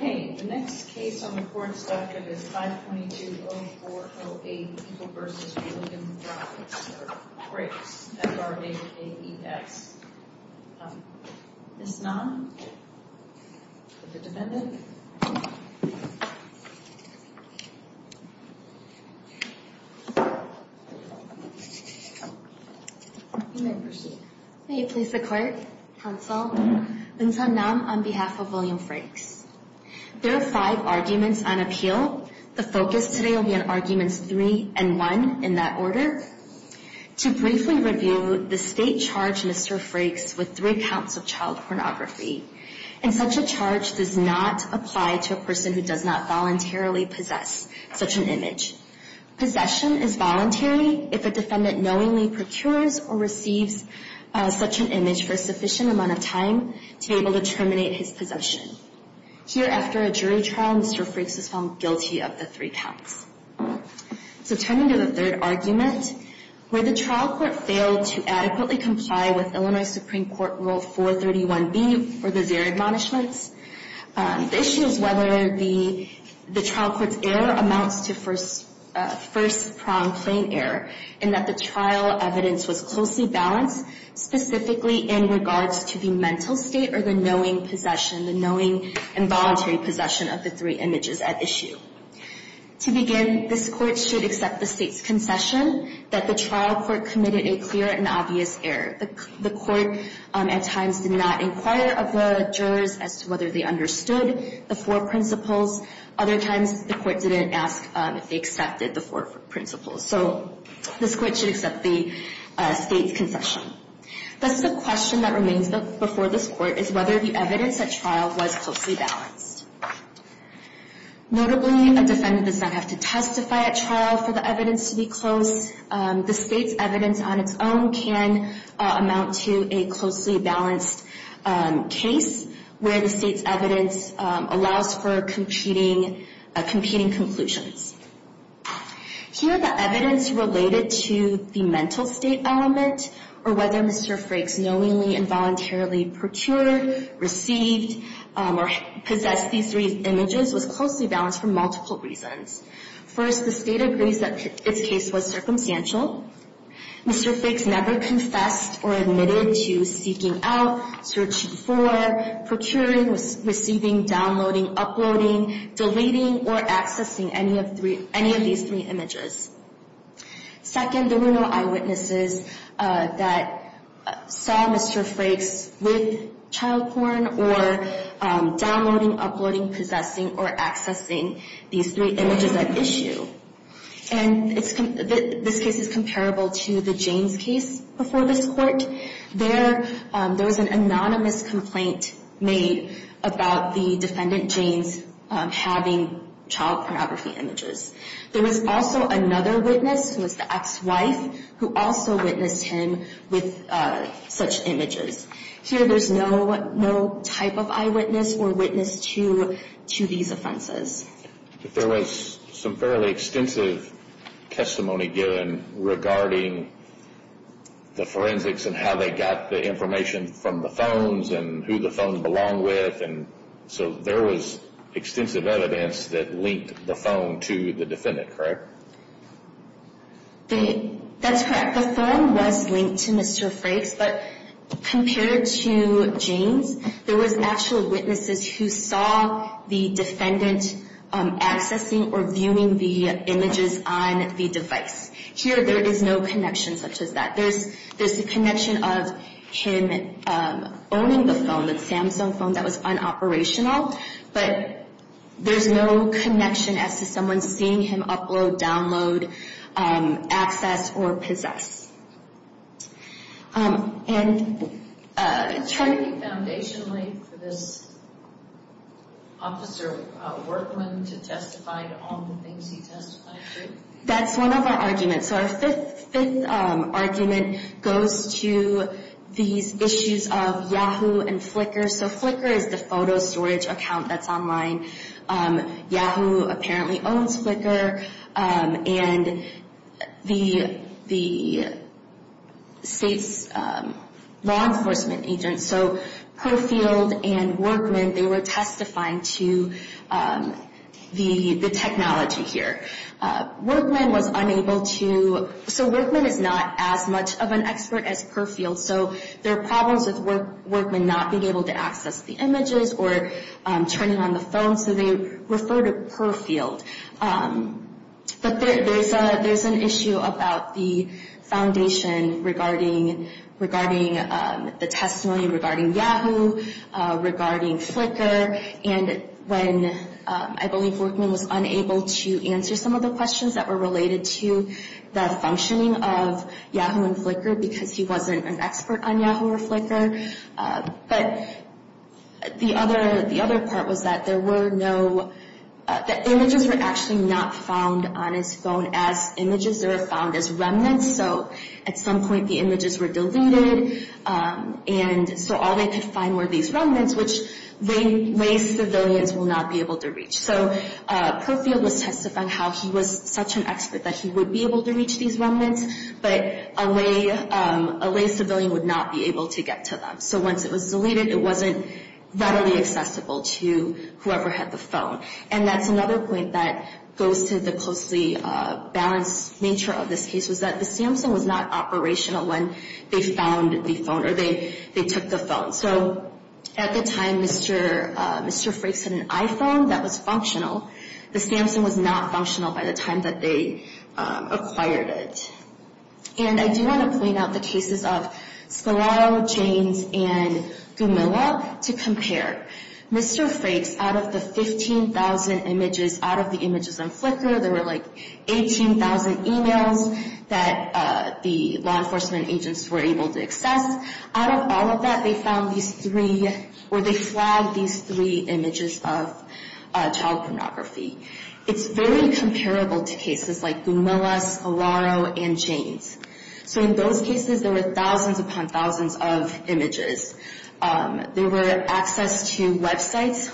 The next case on the court's duct is 522-0408 Eagle v. William Frakes, F-R-A-K-E-S. Ms. Nam, the defendant. You may proceed. May you please the court, counsel. Ms. Nam, on behalf of William Frakes. There are five arguments on appeal. The focus today will be on arguments three and one in that order. To briefly review, the state charged Mr. Frakes with three counts of child pornography. And such a charge does not apply to a person who does not voluntarily possess such an image. Possession is voluntary if a defendant knowingly procures or receives such an image for a sufficient amount of time to be able to terminate his possession. Here, after a jury trial, Mr. Frakes was found guilty of the three counts. So turning to the third argument, where the trial court failed to adequately comply with Illinois Supreme Court Rule 431B for the zero admonishments, the issue is whether the trial court's error amounts to first-pronged plain error in that the trial evidence was closely balanced specifically in regards to the mental state or the knowing possession, the knowing involuntary possession of the three images at issue. To begin, this court should accept the state's concession that the trial court committed a clear and obvious error. The court, at times, did not inquire of the jurors as to whether they understood the four principles. Other times, the court didn't ask if they accepted the four principles. So this court should accept the state's concession. Thus, the question that remains before this court is whether the evidence at trial was closely balanced. Notably, a defendant does not have to testify at trial for the evidence to be close. The state's evidence on its own can amount to a closely balanced case where the state's evidence allows for competing conclusions. Here, the evidence related to the mental state element or whether Mr. Frakes knowingly involuntarily purtured, received, or possessed these three images was closely balanced for multiple reasons. First, the state agrees that its case was circumstantial. Mr. Frakes never confessed or admitted to seeking out, searching for, procuring, receiving, downloading, uploading, deleting, or accessing any of these three images. Second, there were no eyewitnesses that saw Mr. Frakes with child porn or downloading, uploading, possessing, or accessing these three images at issue. And this case is comparable to the Jaynes case before this court. There was an anonymous complaint made about the defendant, Jaynes, having child pornography images. There was also another witness, who was the ex-wife, who also witnessed him with such images. Here, there's no type of eyewitness or witness to these offenses. There was some fairly extensive testimony given regarding the forensics and how they got the information from the phones and who the phones belong with. So there was extensive evidence that linked the phone to the defendant, correct? That's correct. The phone was linked to Mr. Frakes, but compared to Jaynes, there was actual witnesses who saw the defendant accessing or viewing the images on the device. Here, there is no connection such as that. There's the connection of him owning the phone, the Samsung phone that was unoperational, but there's no connection as to someone seeing him upload, download, access, or possess. And trying to be foundationally for this officer workman to testify to all the things he testified to. That's one of our arguments. Our fifth argument goes to these issues of Yahoo and Flickr. So Flickr is the photo storage account that's online. Yahoo apparently owns Flickr. And the state's law enforcement agents, so Perfield and Workman, they were testifying to the technology here. Workman was unable to... So Workman is not as much of an expert as Perfield. So there are problems with Workman not being able to access the images or turning on the phone, so they refer to Perfield. But there's an issue about the foundation regarding the testimony regarding Yahoo, regarding Flickr, and when I believe Workman was unable to answer some of the questions that were related to the functioning of Yahoo and Flickr because he wasn't an expert on Yahoo or Flickr. But the other part was that there were no... The images were actually not found on his phone as images. They were found as remnants, so at some point the images were deleted, and so all they could find were these remnants, which ways civilians will not be able to reach. So Perfield was testifying how he was such an expert that he would be able to reach these remnants, but a lay civilian would not be able to get to them. So once it was deleted, it wasn't readily accessible to whoever had the phone. And that's another point that goes to the closely balanced nature of this case, was that the Samsung was not operational when they found the phone or they took the phone. So at the time, Mr. Frakes had an iPhone that was functional. The Samsung was not functional by the time that they acquired it. And I do want to point out the cases of Scolaro, Janes, and Gumilla to compare. Mr. Frakes, out of the 15,000 images, out of the images on Flickr, there were like 18,000 emails that the law enforcement agents were able to access. Out of all of that, they found these three, or they flagged these three images of child pornography. It's very comparable to cases like Gumilla, Scolaro, and Janes. So in those cases, there were thousands upon thousands of images. There were access to websites,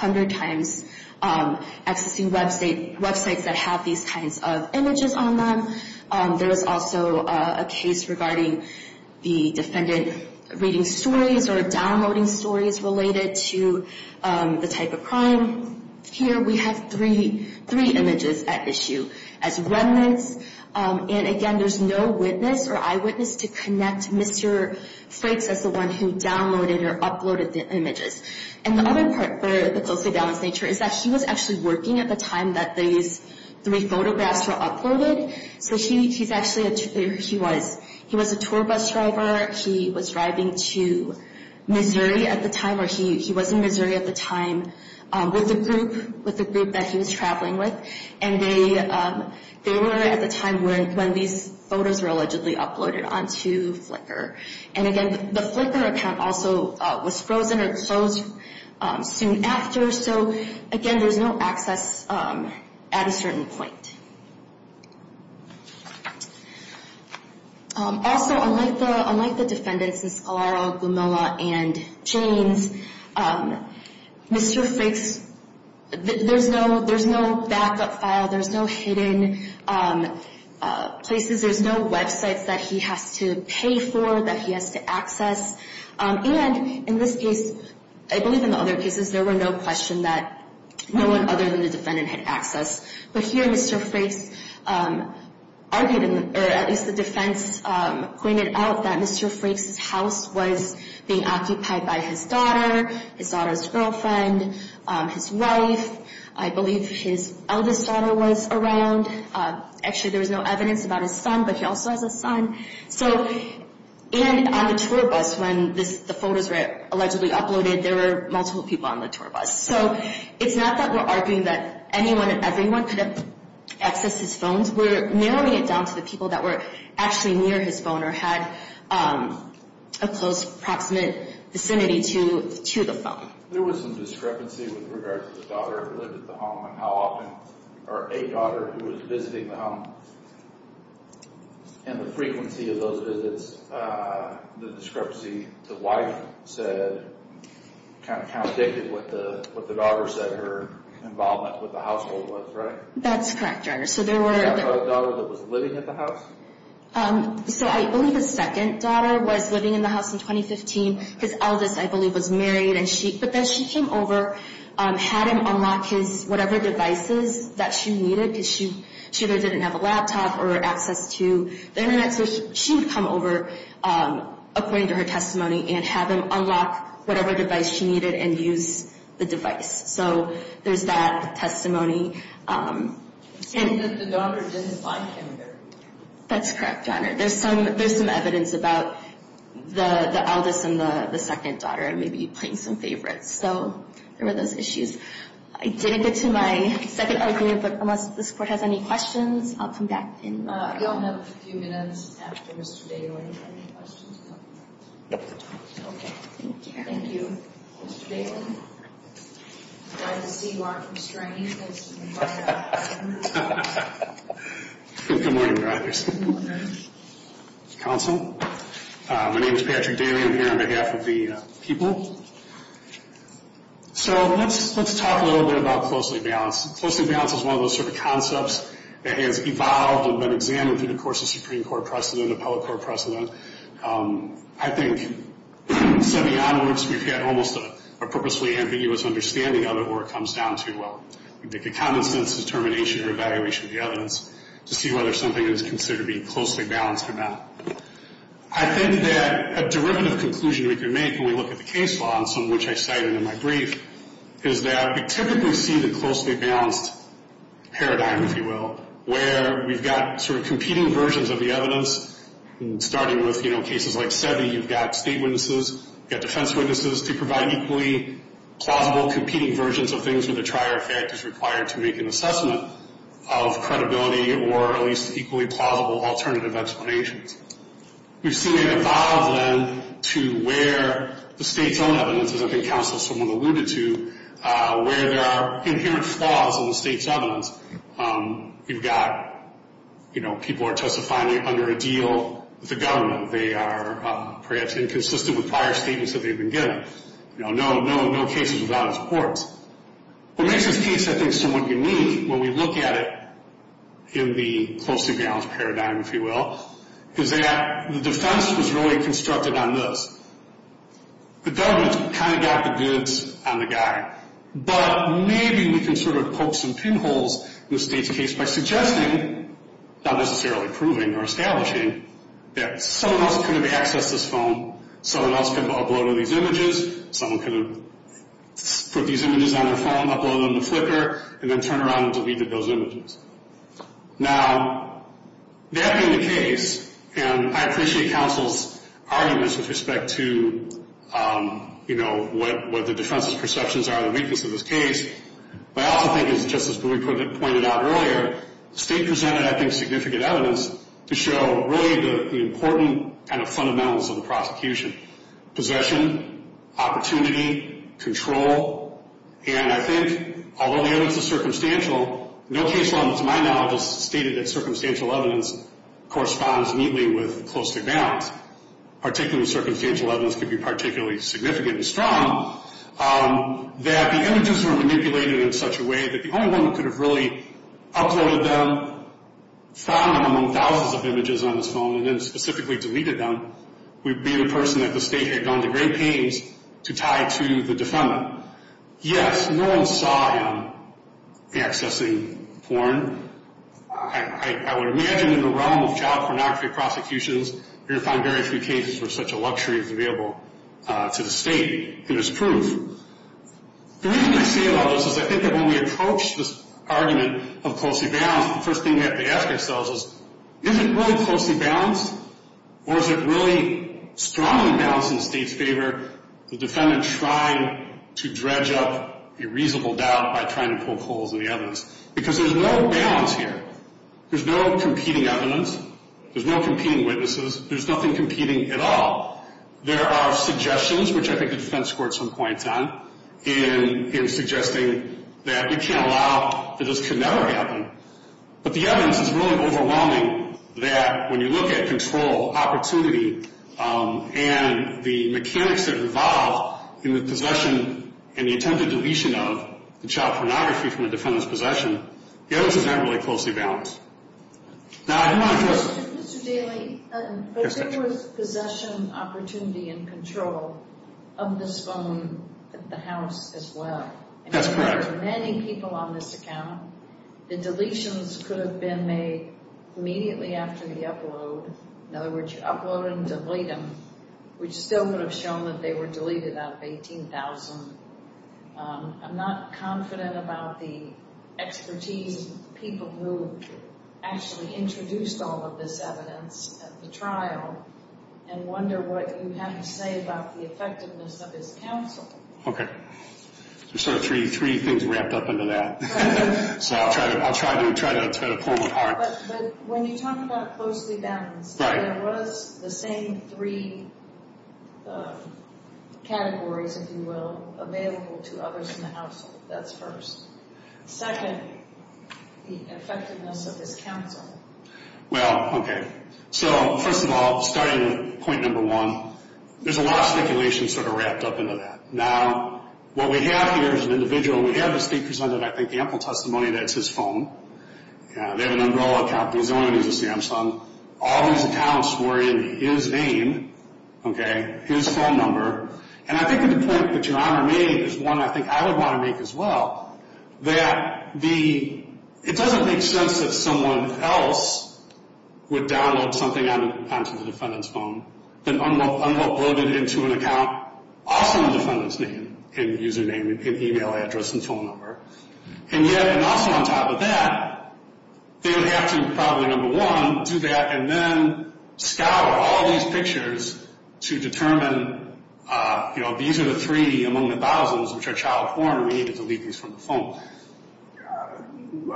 100 times, accessing websites that have these kinds of images on them. There was also a case regarding the defendant reading stories or downloading stories related to the type of crime. Here we have three images at issue as remnants. And again, there's no witness or eyewitness to connect Mr. Frakes as the one who downloaded or uploaded the images. And the other part for the closely balanced nature is that he was actually working at the time that these three photographs were uploaded. So he was a tour bus driver. He was driving to Missouri at the time, or he was in Missouri at the time, with a group that he was traveling with. And they were at the time when these photos were allegedly uploaded onto Flickr. And again, the Flickr account also was frozen or closed soon after. So again, there's no access at a certain point. Also, unlike the defendants, the Scolaro, Gumilla, and Janes, Mr. Frakes, there's no backup file. There's no hidden places. There's no websites that he has to pay for, that he has to access. And in this case, I believe in the other cases, there were no question that no one other than the defendant had access. But here, Mr. Frakes argued, or at least the defense pointed out, that Mr. Frakes' house was being occupied by his daughter, his daughter's girlfriend, his wife. I believe his eldest daughter was around. Actually, there was no evidence about his son, but he also has a son. And on the tour bus, when the photos were allegedly uploaded, there were multiple people on the tour bus. So it's not that we're arguing that anyone and everyone could have accessed his phones. We're narrowing it down to the people that were actually near his phone or had a close, proximate vicinity to the phone. There was some discrepancy with regards to the daughter who lived at the home or a daughter who was visiting the home. And the frequency of those visits, the discrepancy the wife said, kind of contradicted what the daughter said her involvement with the household was, right? That's correct, Your Honor. So I believe his second daughter was living in the house in 2015. His eldest, I believe, was married. But then she came over, had him unlock his whatever devices that she needed, because she either didn't have a laptop or access to the Internet. So she would come over, according to her testimony, and have him unlock whatever device she needed and use the device. So there's that testimony. That's correct, Your Honor. There's some evidence about the eldest and the second daughter maybe playing some favorites. So there were those issues. I didn't get to my second argument, but unless this Court has any questions, I'll come back in. We only have a few minutes after Mr. Daly. Okay. Thank you. Mr. Daly, I'm glad to see you aren't restraining yourself. Good morning, Your Honor. Counsel, my name is Patrick Daly. I'm here on behalf of the people. So let's talk a little bit about closely balanced. Closely balanced is one of those sort of concepts that has evolved and been examined through the course of Supreme Court precedent, Appellate Court precedent. I think, semi-onwards, we've had almost a purposefully ambiguous understanding of it where it comes down to, well, the common sense determination or evaluation of the evidence to see whether something is considered to be closely balanced or not. I think that a derivative conclusion we can make when we look at the case law, and some of which I cited in my brief, is that we typically see the closely balanced paradigm, if you will, where we've got sort of competing versions of the evidence, starting with cases like Seve, you've got state witnesses, you've got defense witnesses to provide equally plausible competing versions of things where the trier effect is required to make an assessment of credibility or at least equally plausible alternative explanations. We've seen it evolve then to where the state's own evidence, as I think counsel, someone alluded to, where there are inherent flaws in the state's evidence. You've got, you know, people are testifying under a deal with the government. They are perhaps inconsistent with prior statements that they've been given. You know, no cases without a support. What makes this case, I think, somewhat unique when we look at it in the closely balanced paradigm, if you will, is that the defense was really constructed on this. The government kind of got the goods on the guy. But maybe we can sort of poke some pinholes in the state's case by suggesting, not necessarily proving or establishing, that someone else could have accessed this phone, someone else could have uploaded these images, someone could have put these images on their phone, uploaded them to Flickr, and then turned around and deleted those images. Now, that being the case, and I appreciate counsel's arguments with respect to, you know, what the defense's perceptions are of the weakness of this case. But I also think, as Justice Brewer pointed out earlier, the state presented, I think, significant evidence to show really the important kind of fundamentals of the prosecution, possession, opportunity, control. And I think, although the evidence is circumstantial, no case law to my knowledge has stated that circumstantial evidence corresponds neatly with close to balance. Particularly circumstantial evidence could be particularly significantly strong, that the images were manipulated in such a way that the only one who could have really uploaded them, found them among thousands of images on his phone, and then specifically deleted them, would be the person that the state had gone to great pains to tie to the defendant. Yes, no one saw him accessing porn. I would imagine in the realm of child pornography prosecutions, you're going to find very few cases where such a luxury is available to the state. It is proof. The reason I say all this is I think that when we approach this argument of closely balanced, the first thing we have to ask ourselves is, is it really closely balanced, or is it really strongly balanced in the state's favor, the defendant trying to dredge up a reasonable doubt by trying to poke holes in the evidence? Because there's no balance here. There's no competing evidence. There's no competing witnesses. There's nothing competing at all. There are suggestions, which I think the defense court some points on, in suggesting that we can't allow that this could never happen. But the evidence is really overwhelming that when you look at control, opportunity, and the mechanics that revolve in the possession and the attempted deletion of the child pornography from the defendant's possession, the evidence is not really closely balanced. Now, I do want to just – Mr. Daley, but there was possession, opportunity, and control of this phone at the house as well. That's correct. There were many people on this account. The deletions could have been made immediately after the upload. In other words, you upload them, delete them, which still would have shown that they were deleted out of 18,000. I'm not confident about the expertise of the people who actually introduced all of this evidence at the trial and wonder what you have to say about the effectiveness of this counsel. Okay. There's sort of three things wrapped up into that. So I'll try to pull them apart. But when you talk about closely balanced, there was the same three categories, if you will, available to others in the household. That's first. Second, the effectiveness of this counsel. Well, okay. So first of all, starting with point number one, there's a lot of speculation sort of wrapped up into that. Now, what we have here is an individual. We have the state presented, I think, ample testimony that it's his phone. They have an umbrella account. He's the only one who has a Samsung. All of these accounts were in his name, okay, his phone number. And I think the point that Your Honor made is one I think I would want to make as well, that it doesn't make sense that someone else would download something onto the defendant's phone and upload it into an account also in the defendant's name and username and email address and phone number. And yet, and also on top of that, they would have to probably, number one, do that and then scour all these pictures to determine, you know, these are the three among the thousands which are child porn. We need to delete these from the phone.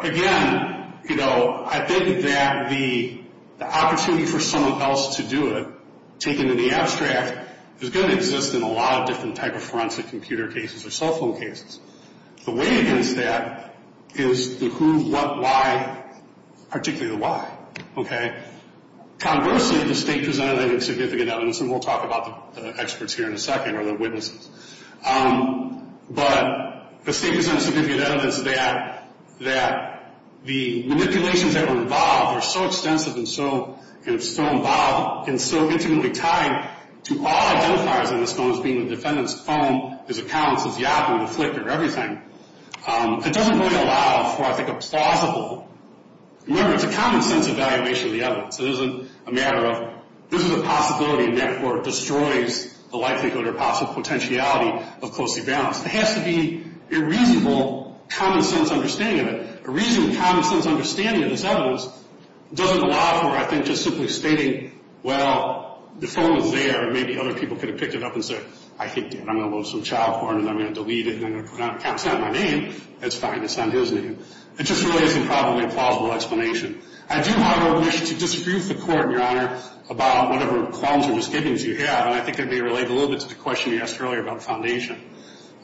Again, you know, I think that the opportunity for someone else to do it, taken in the abstract, is going to exist in a lot of different type of forensic computer cases or cell phone cases. The way against that is the who, what, why, particularly the why, okay? Conversely, the state presented, I think, significant evidence, and we'll talk about the experts here in a second or the witnesses. But the state presented significant evidence that the manipulations that were involved were so extensive and so involved and so intimately tied to all identifiers on this phone, as being the defendant's phone, his accounts, his Yahoo, the Flickr, everything. It doesn't really allow for, I think, a plausible. Remember, it's a common sense evaluation of the evidence. It isn't a matter of this is a possibility, and therefore it destroys the likelihood or possible potentiality of closely balanced. It has to be a reasonable common sense understanding of it. A reasonable common sense understanding of this evidence doesn't allow for, I think, just simply stating, well, the phone was there. Maybe other people could have picked it up and said, I think I'm going to load some child porn and I'm going to delete it and I'm going to put it on account. It's not my name. That's fine. It's not his name. It just really isn't probably a plausible explanation. I do, however, wish to disagree with the Court, Your Honor, about whatever qualms or misgivings you have, and I think that may relate a little bit to the question you asked earlier about foundation.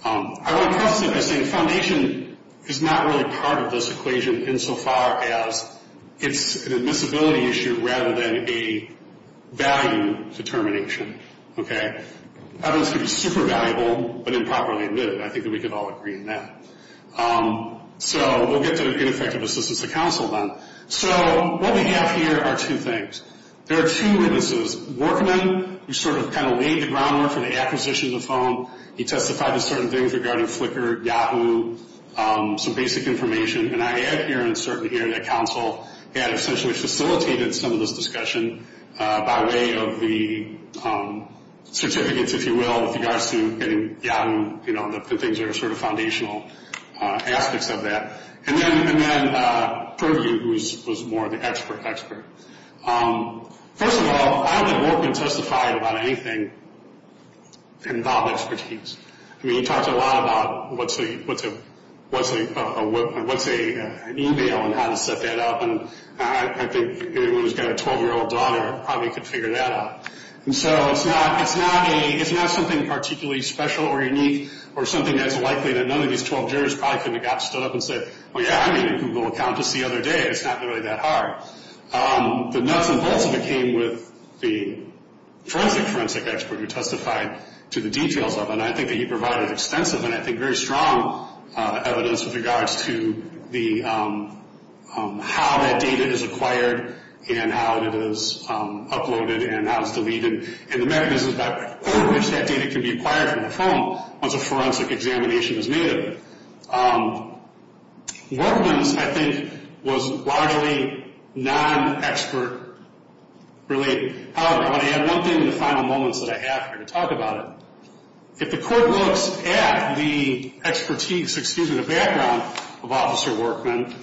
I want to preface it by saying foundation is not really part of this equation insofar as it's an admissibility issue rather than a value determination. Okay? Evidence can be super valuable but improperly admitted. I think that we could all agree on that. So we'll get to ineffective assistance of counsel then. So what we have here are two things. There are two witnesses. Workman, who sort of kind of laid the groundwork for the acquisition of the phone. He testified to certain things regarding Flickr, Yahoo, some basic information, and I add here and certainly here that counsel had essentially facilitated some of this discussion by way of the certificates, if you will, with regards to getting Yahoo, you know, the things that are sort of foundational aspects of that. And then Purview, who was more of the expert expert. First of all, I don't think Workman testified about anything involving expertise. I mean, he talked a lot about what's an e-mail and how to set that up, and I think anyone who's got a 12-year-old daughter probably could figure that out. And so it's not something particularly special or unique or something that's likely that none of these 12 jurors probably could have got stood up and said, well, yeah, I made a Google account just the other day. It's not really that hard. But nuts and bolts of it came with the forensic forensic expert who testified to the details of it, and I think that he provided extensive and I think very strong evidence with regards to the how that data is acquired and how it is uploaded and how it's deleted and the mechanisms by which that data can be acquired from a phone once a forensic examination is made of it. Workman's, I think, was largely non-expert related. However, I want to add one thing in the final moments that I have here to talk about it. If the court looks at the expertise, excuse me, the background of Officer Workman,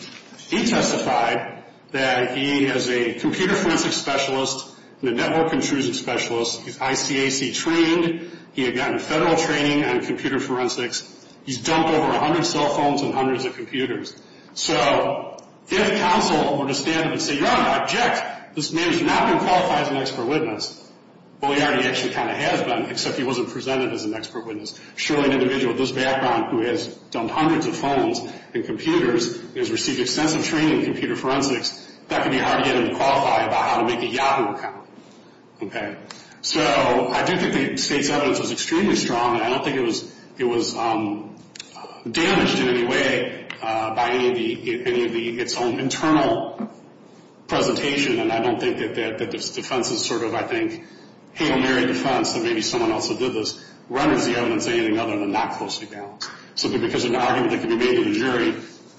he testified that he is a computer forensic specialist and a network intrusion specialist. He's ICAC trained. He had gotten federal training on computer forensics. He's dumped over 100 cell phones and hundreds of computers. So if counsel were to stand up and say, you're on an object, this man has not been qualified as an expert witness. Well, he already actually kind of has been, except he wasn't presented as an expert witness. Surely an individual with this background who has dumped hundreds of phones and computers and has received extensive training in computer forensics, that could be hard to get him to qualify about how to make a Yahoo account. Okay. So I do think the state's evidence was extremely strong, and I don't think it was damaged in any way by any of its own internal presentation, and I don't think that this defense is sort of, I think, hate and merry defense that maybe someone else who did this renders the evidence anything other than not closely balanced. So because of an argument that could be made to the jury,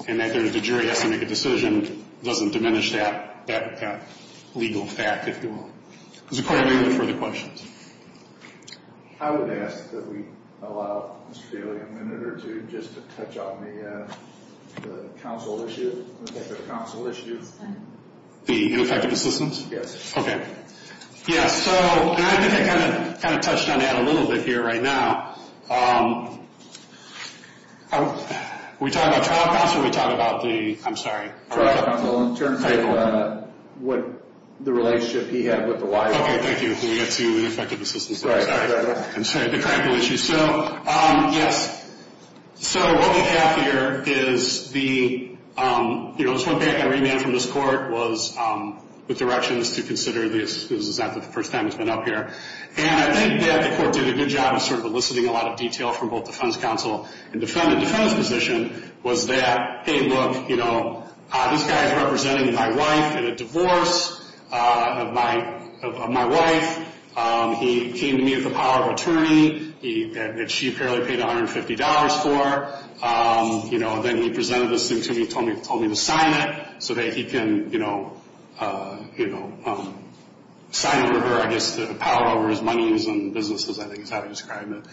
and that the jury has to make a decision, doesn't diminish that legal fact, if you will. Does the court have any further questions? I would ask that we allow Mr. Bailey a minute or two just to touch on the counsel issue. The ineffective assistance? Yes. Okay. Yes. So I think I kind of touched on that a little bit here right now. Are we talking about trial counsel or are we talking about the – I'm sorry. Trial counsel in terms of what the relationship he had with the wildlife. Okay. Thank you. We got too ineffective assistance. I'm sorry. I'm sorry. So, yes. So what we have here is the – you know, the first thing I read from this court was the directions to consider the assistance. This is not the first time it's been up here. And I think that the court did a good job of sort of eliciting a lot of detail from both defense counsel and the defendant. The defendant's position was that, hey, look, you know, this guy is representing my wife in a divorce of my wife. He came to me with a power of attorney that she apparently paid $150 for. You know, then he presented this thing to me and told me to sign it so that he can, you know, sign it with her, I guess, to power over his monies and businesses, I think is how to describe it.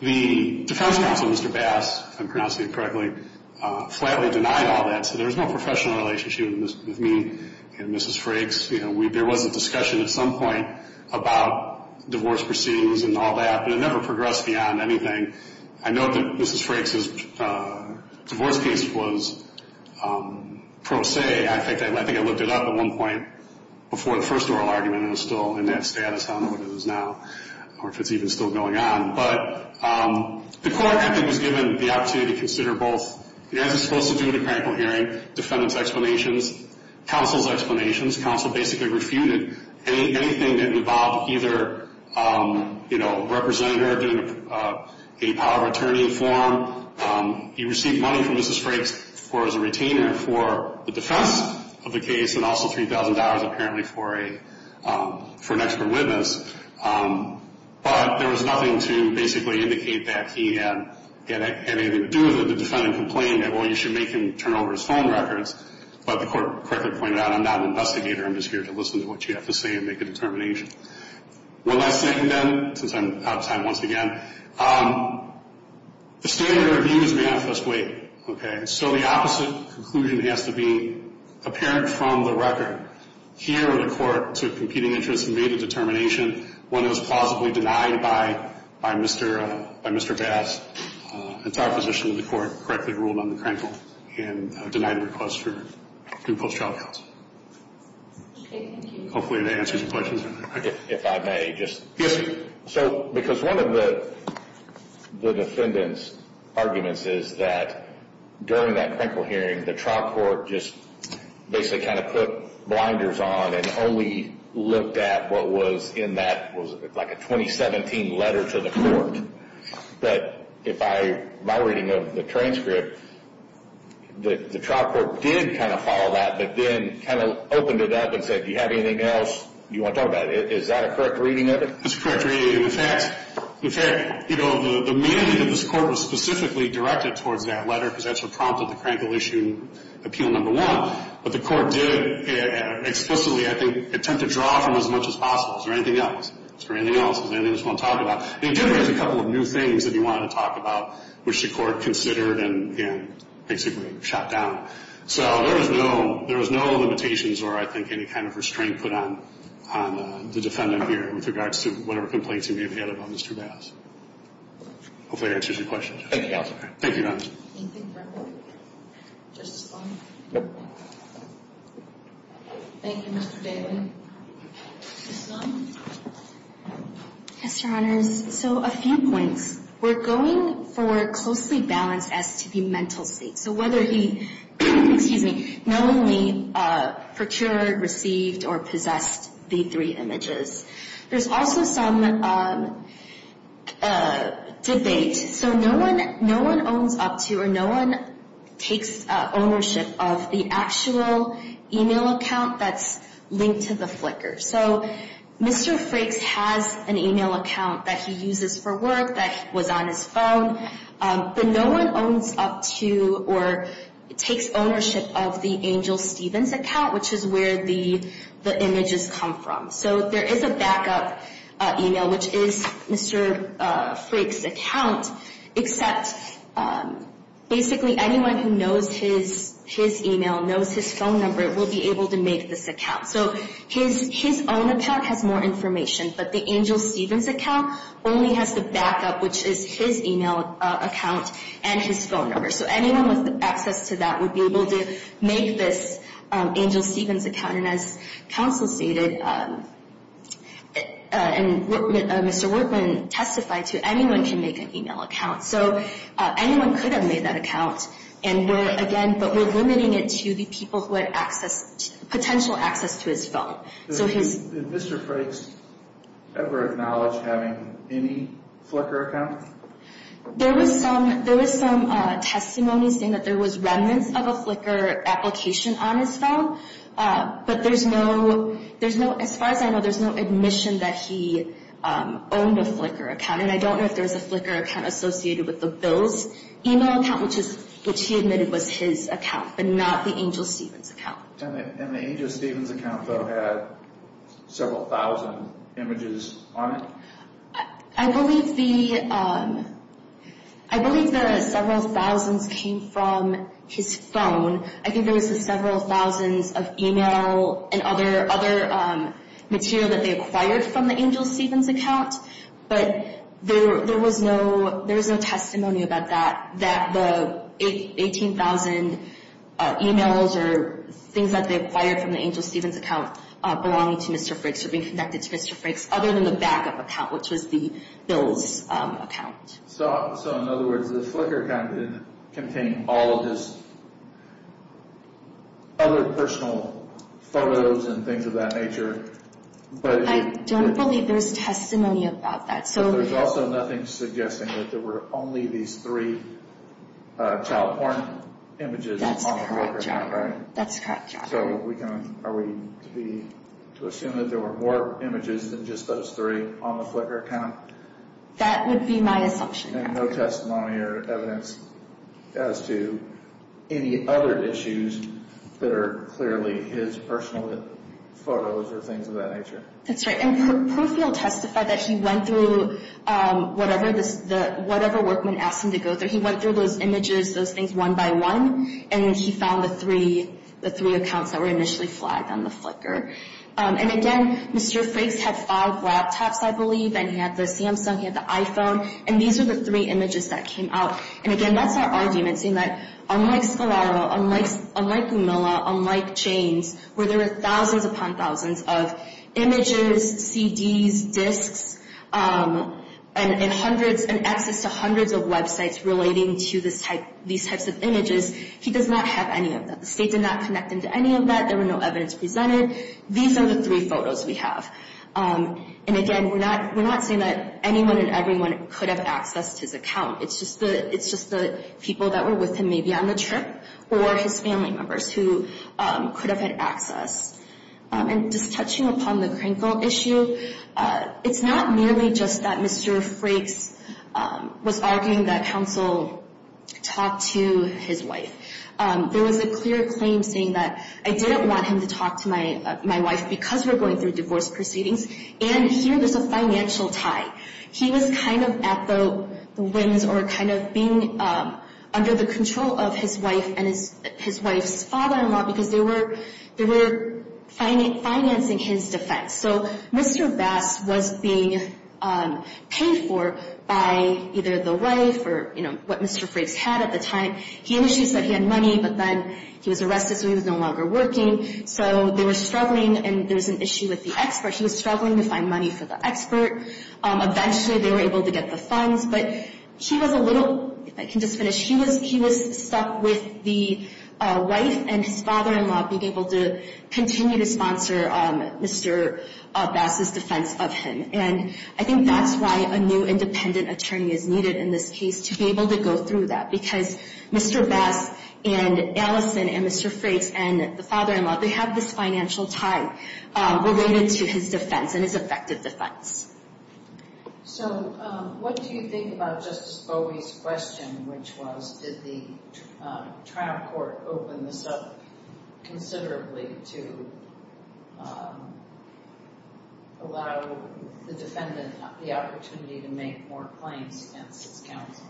The defense counsel, Mr. Bass, if I'm pronouncing it correctly, flatly denied all that. So there was no professional relationship with me and Mrs. Frakes. There was a discussion at some point about divorce proceedings and all that, but it never progressed beyond anything. I know that Mrs. Frakes' divorce case was pro se. I think I looked it up at one point before the first oral argument and it was still in that status. I don't know what it is now or if it's even still going on. But the court, I think, was given the opportunity to consider both, as it's supposed to do in a critical hearing, defendant's explanations, counsel's explanations. The defense counsel basically refuted anything that involved either, you know, representative in a power of attorney form. He received money from Mrs. Frakes as a retainer for the defense of the case and also $3,000 apparently for an expert witness. But there was nothing to basically indicate that he had anything to do with the defendant complaining that, well, you should make him turn over his phone records. But the court correctly pointed out, I'm not an investigator. I'm just here to listen to what you have to say and make a determination. One last thing, then, since I'm out of time once again. The standard of view is manifest weight, okay? So the opposite conclusion has to be apparent from the record. Here the court took competing interest and made a determination when it was plausibly denied by Mr. Bass. It's our position that the court correctly ruled on the crankle and denied the request for group post-trial counsel. Okay, thank you. Hopefully that answers your question. If I may, just. Yes, sir. So because one of the defendant's arguments is that during that crankle hearing, the trial court just basically kind of put blinders on and only looked at what was in that, like a 2017 letter to the court. But if I, my reading of the transcript, the trial court did kind of follow that, but then kind of opened it up and said, do you have anything else you want to talk about? Is that a correct reading of it? It's a correct reading. In fact, you know, the meaning of this court was specifically directed towards that letter because that's what prompted the crankle issue, appeal number one. But the court did explicitly, I think, attempt to draw from as much as possible. Is there anything else? Is there anything else? Is there anything else you want to talk about? And it did raise a couple of new things that he wanted to talk about, which the court considered and basically shot down. So there was no limitations or, I think, any kind of restraint put on the defendant here with regards to whatever complaints he may have had about Mr. Bass. Hopefully that answers your question. Thank you, Your Honor. Thank you, Your Honor. Anything further? Justice Sloan? Thank you, Mr. Daly. Ms. Sloan? Yes, Your Honors. So a few points. We're going for a closely balanced STD mental state. So whether he, excuse me, knowingly procured, received, or possessed the three images. There's also some debate. So no one owns up to or no one takes ownership of the actual email account that's linked to the flicker. So Mr. Frakes has an email account that he uses for work that was on his phone, but no one owns up to or takes ownership of the Angel Stevens account, which is where the images come from. So there is a backup email, which is Mr. Frakes' account, except basically anyone who knows his email, knows his phone number, will be able to make this account. So his own account has more information, but the Angel Stevens account only has the backup, which is his email account and his phone number. So anyone with access to that would be able to make this Angel Stevens account. And as counsel stated and Mr. Workman testified to, anyone can make an email account. So anyone could have made that account, and we're, again, but we're limiting it to the people who had access, potential access to his phone. Did Mr. Frakes ever acknowledge having any flicker account? There was some testimony saying that there was remnants of a flicker application on his phone, but there's no, as far as I know, there's no admission that he owned a flicker account, and I don't know if there's a flicker account associated with the bill's email account, which he admitted was his account, but not the Angel Stevens account. And the Angel Stevens account, though, had several thousand images on it? I believe the several thousands came from his phone. I think there was the several thousands of email and other material that they acquired from the Angel Stevens account, but there was no testimony about that, that the 18,000 emails or things that they acquired from the Angel Stevens account belonged to Mr. Frakes or being connected to Mr. Frakes, other than the backup account, which was the bill's account. So, in other words, the flicker account didn't contain all of his other personal photos and things of that nature? I don't believe there's testimony about that. But there's also nothing suggesting that there were only these three child porn images on the flicker account, right? That's the correct job. So are we to assume that there were more images than just those three on the flicker account? That would be my assumption. And no testimony or evidence as to any other issues that are clearly his personal photos or things of that nature? That's right. And Profield testified that he went through whatever workman asked him to go through. He went through those images, those things, one by one, and he found the three accounts that were initially flagged on the flicker. And, again, Mr. Frakes had five laptops, I believe, and he had the Samsung, he had the iPhone, and these were the three images that came out. And, again, that's our argument, seeing that, unlike Scalaro, unlike Milla, unlike Chains, where there were thousands upon thousands of images, CDs, discs, and access to hundreds of websites relating to these types of images, he does not have any of that. The state did not connect him to any of that. There was no evidence presented. These are the three photos we have. And, again, we're not saying that anyone and everyone could have accessed his account. It's just the people that were with him, maybe on the trip, or his family members who could have had access. And just touching upon the Krinkle issue, it's not merely just that Mr. Frakes was arguing that counsel talk to his wife. There was a clear claim saying that I didn't want him to talk to my wife because we're going through divorce proceedings. And here there's a financial tie. He was kind of at the whims or kind of being under the control of his wife and his wife's father-in-law because they were financing his defense. So Mr. Bass was being paid for by either the wife or, you know, what Mr. Frakes had at the time. He initially said he had money, but then he was arrested, so he was no longer working. So they were struggling, and there was an issue with the expert. He was struggling to find money for the expert. Eventually they were able to get the funds, but he was a little, if I can just finish, he was stuck with the wife and his father-in-law being able to continue to sponsor Mr. Bass's defense of him. And I think that's why a new independent attorney is needed in this case, to be able to go through that because Mr. Bass and Allison and Mr. Frakes and the father-in-law, they have this financial tie related to his defense and his effective defense. So what do you think about Justice Bowie's question, which was did the trial court open this up considerably to allow the defendant the opportunity to make more claims against his counsel?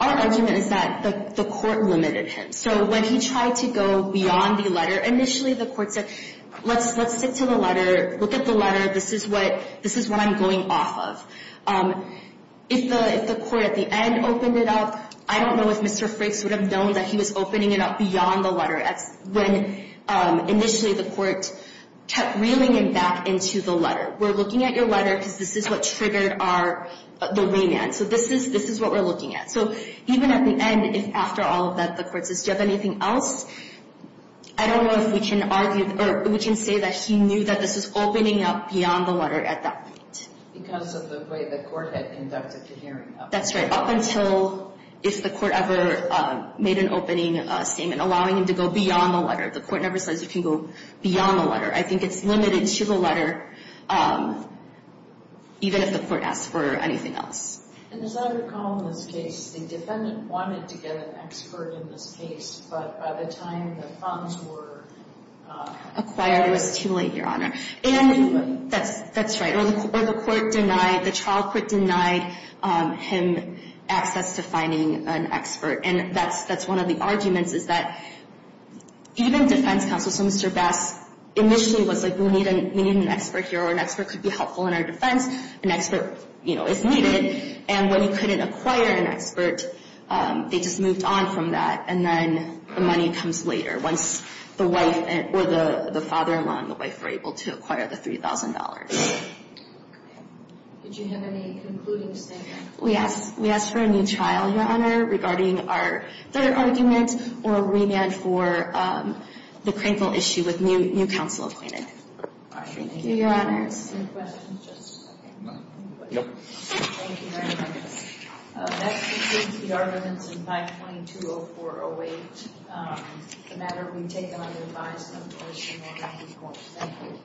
Our argument is that the court limited him. So when he tried to go beyond the letter, initially the court said, let's stick to the letter, look at the letter. This is what I'm going off of. If the court at the end opened it up, I don't know if Mr. Frakes would have known that he was opening it up beyond the letter when initially the court kept reeling him back into the letter. We're looking at your letter because this is what triggered the remand. So this is what we're looking at. So even at the end, after all of that, the court says, do you have anything else? I don't know if we can argue or we can say that he knew that this was opening up beyond the letter at that point. Because of the way the court had conducted the hearing. That's right. Up until if the court ever made an opening statement allowing him to go beyond the letter. The court never says you can go beyond the letter. I think it's limited to the letter, even if the court asks for anything else. And as I recall in this case, the defendant wanted to get an expert in this case. But by the time the funds were acquired, it was too late, Your Honor. And that's right. Or the court denied, the trial court denied him access to finding an expert. And that's one of the arguments is that even defense counsel, so Mr. Bass, initially was like we need an expert here. Or an expert could be helpful in our defense. An expert, you know, is needed. And when he couldn't acquire an expert, they just moved on from that. And then the money comes later. Once the wife or the father-in-law and the wife were able to acquire the $3,000. Did you have any concluding statement? We asked for a new trial, Your Honor, regarding our third argument or remand for the Crankville issue with new counsel appointed. Thank you, Your Honor. Any questions? Nope. Thank you very much. That concludes the arguments in 522-0408. The matter will be taken under advice of the Washington County Court. Thank you.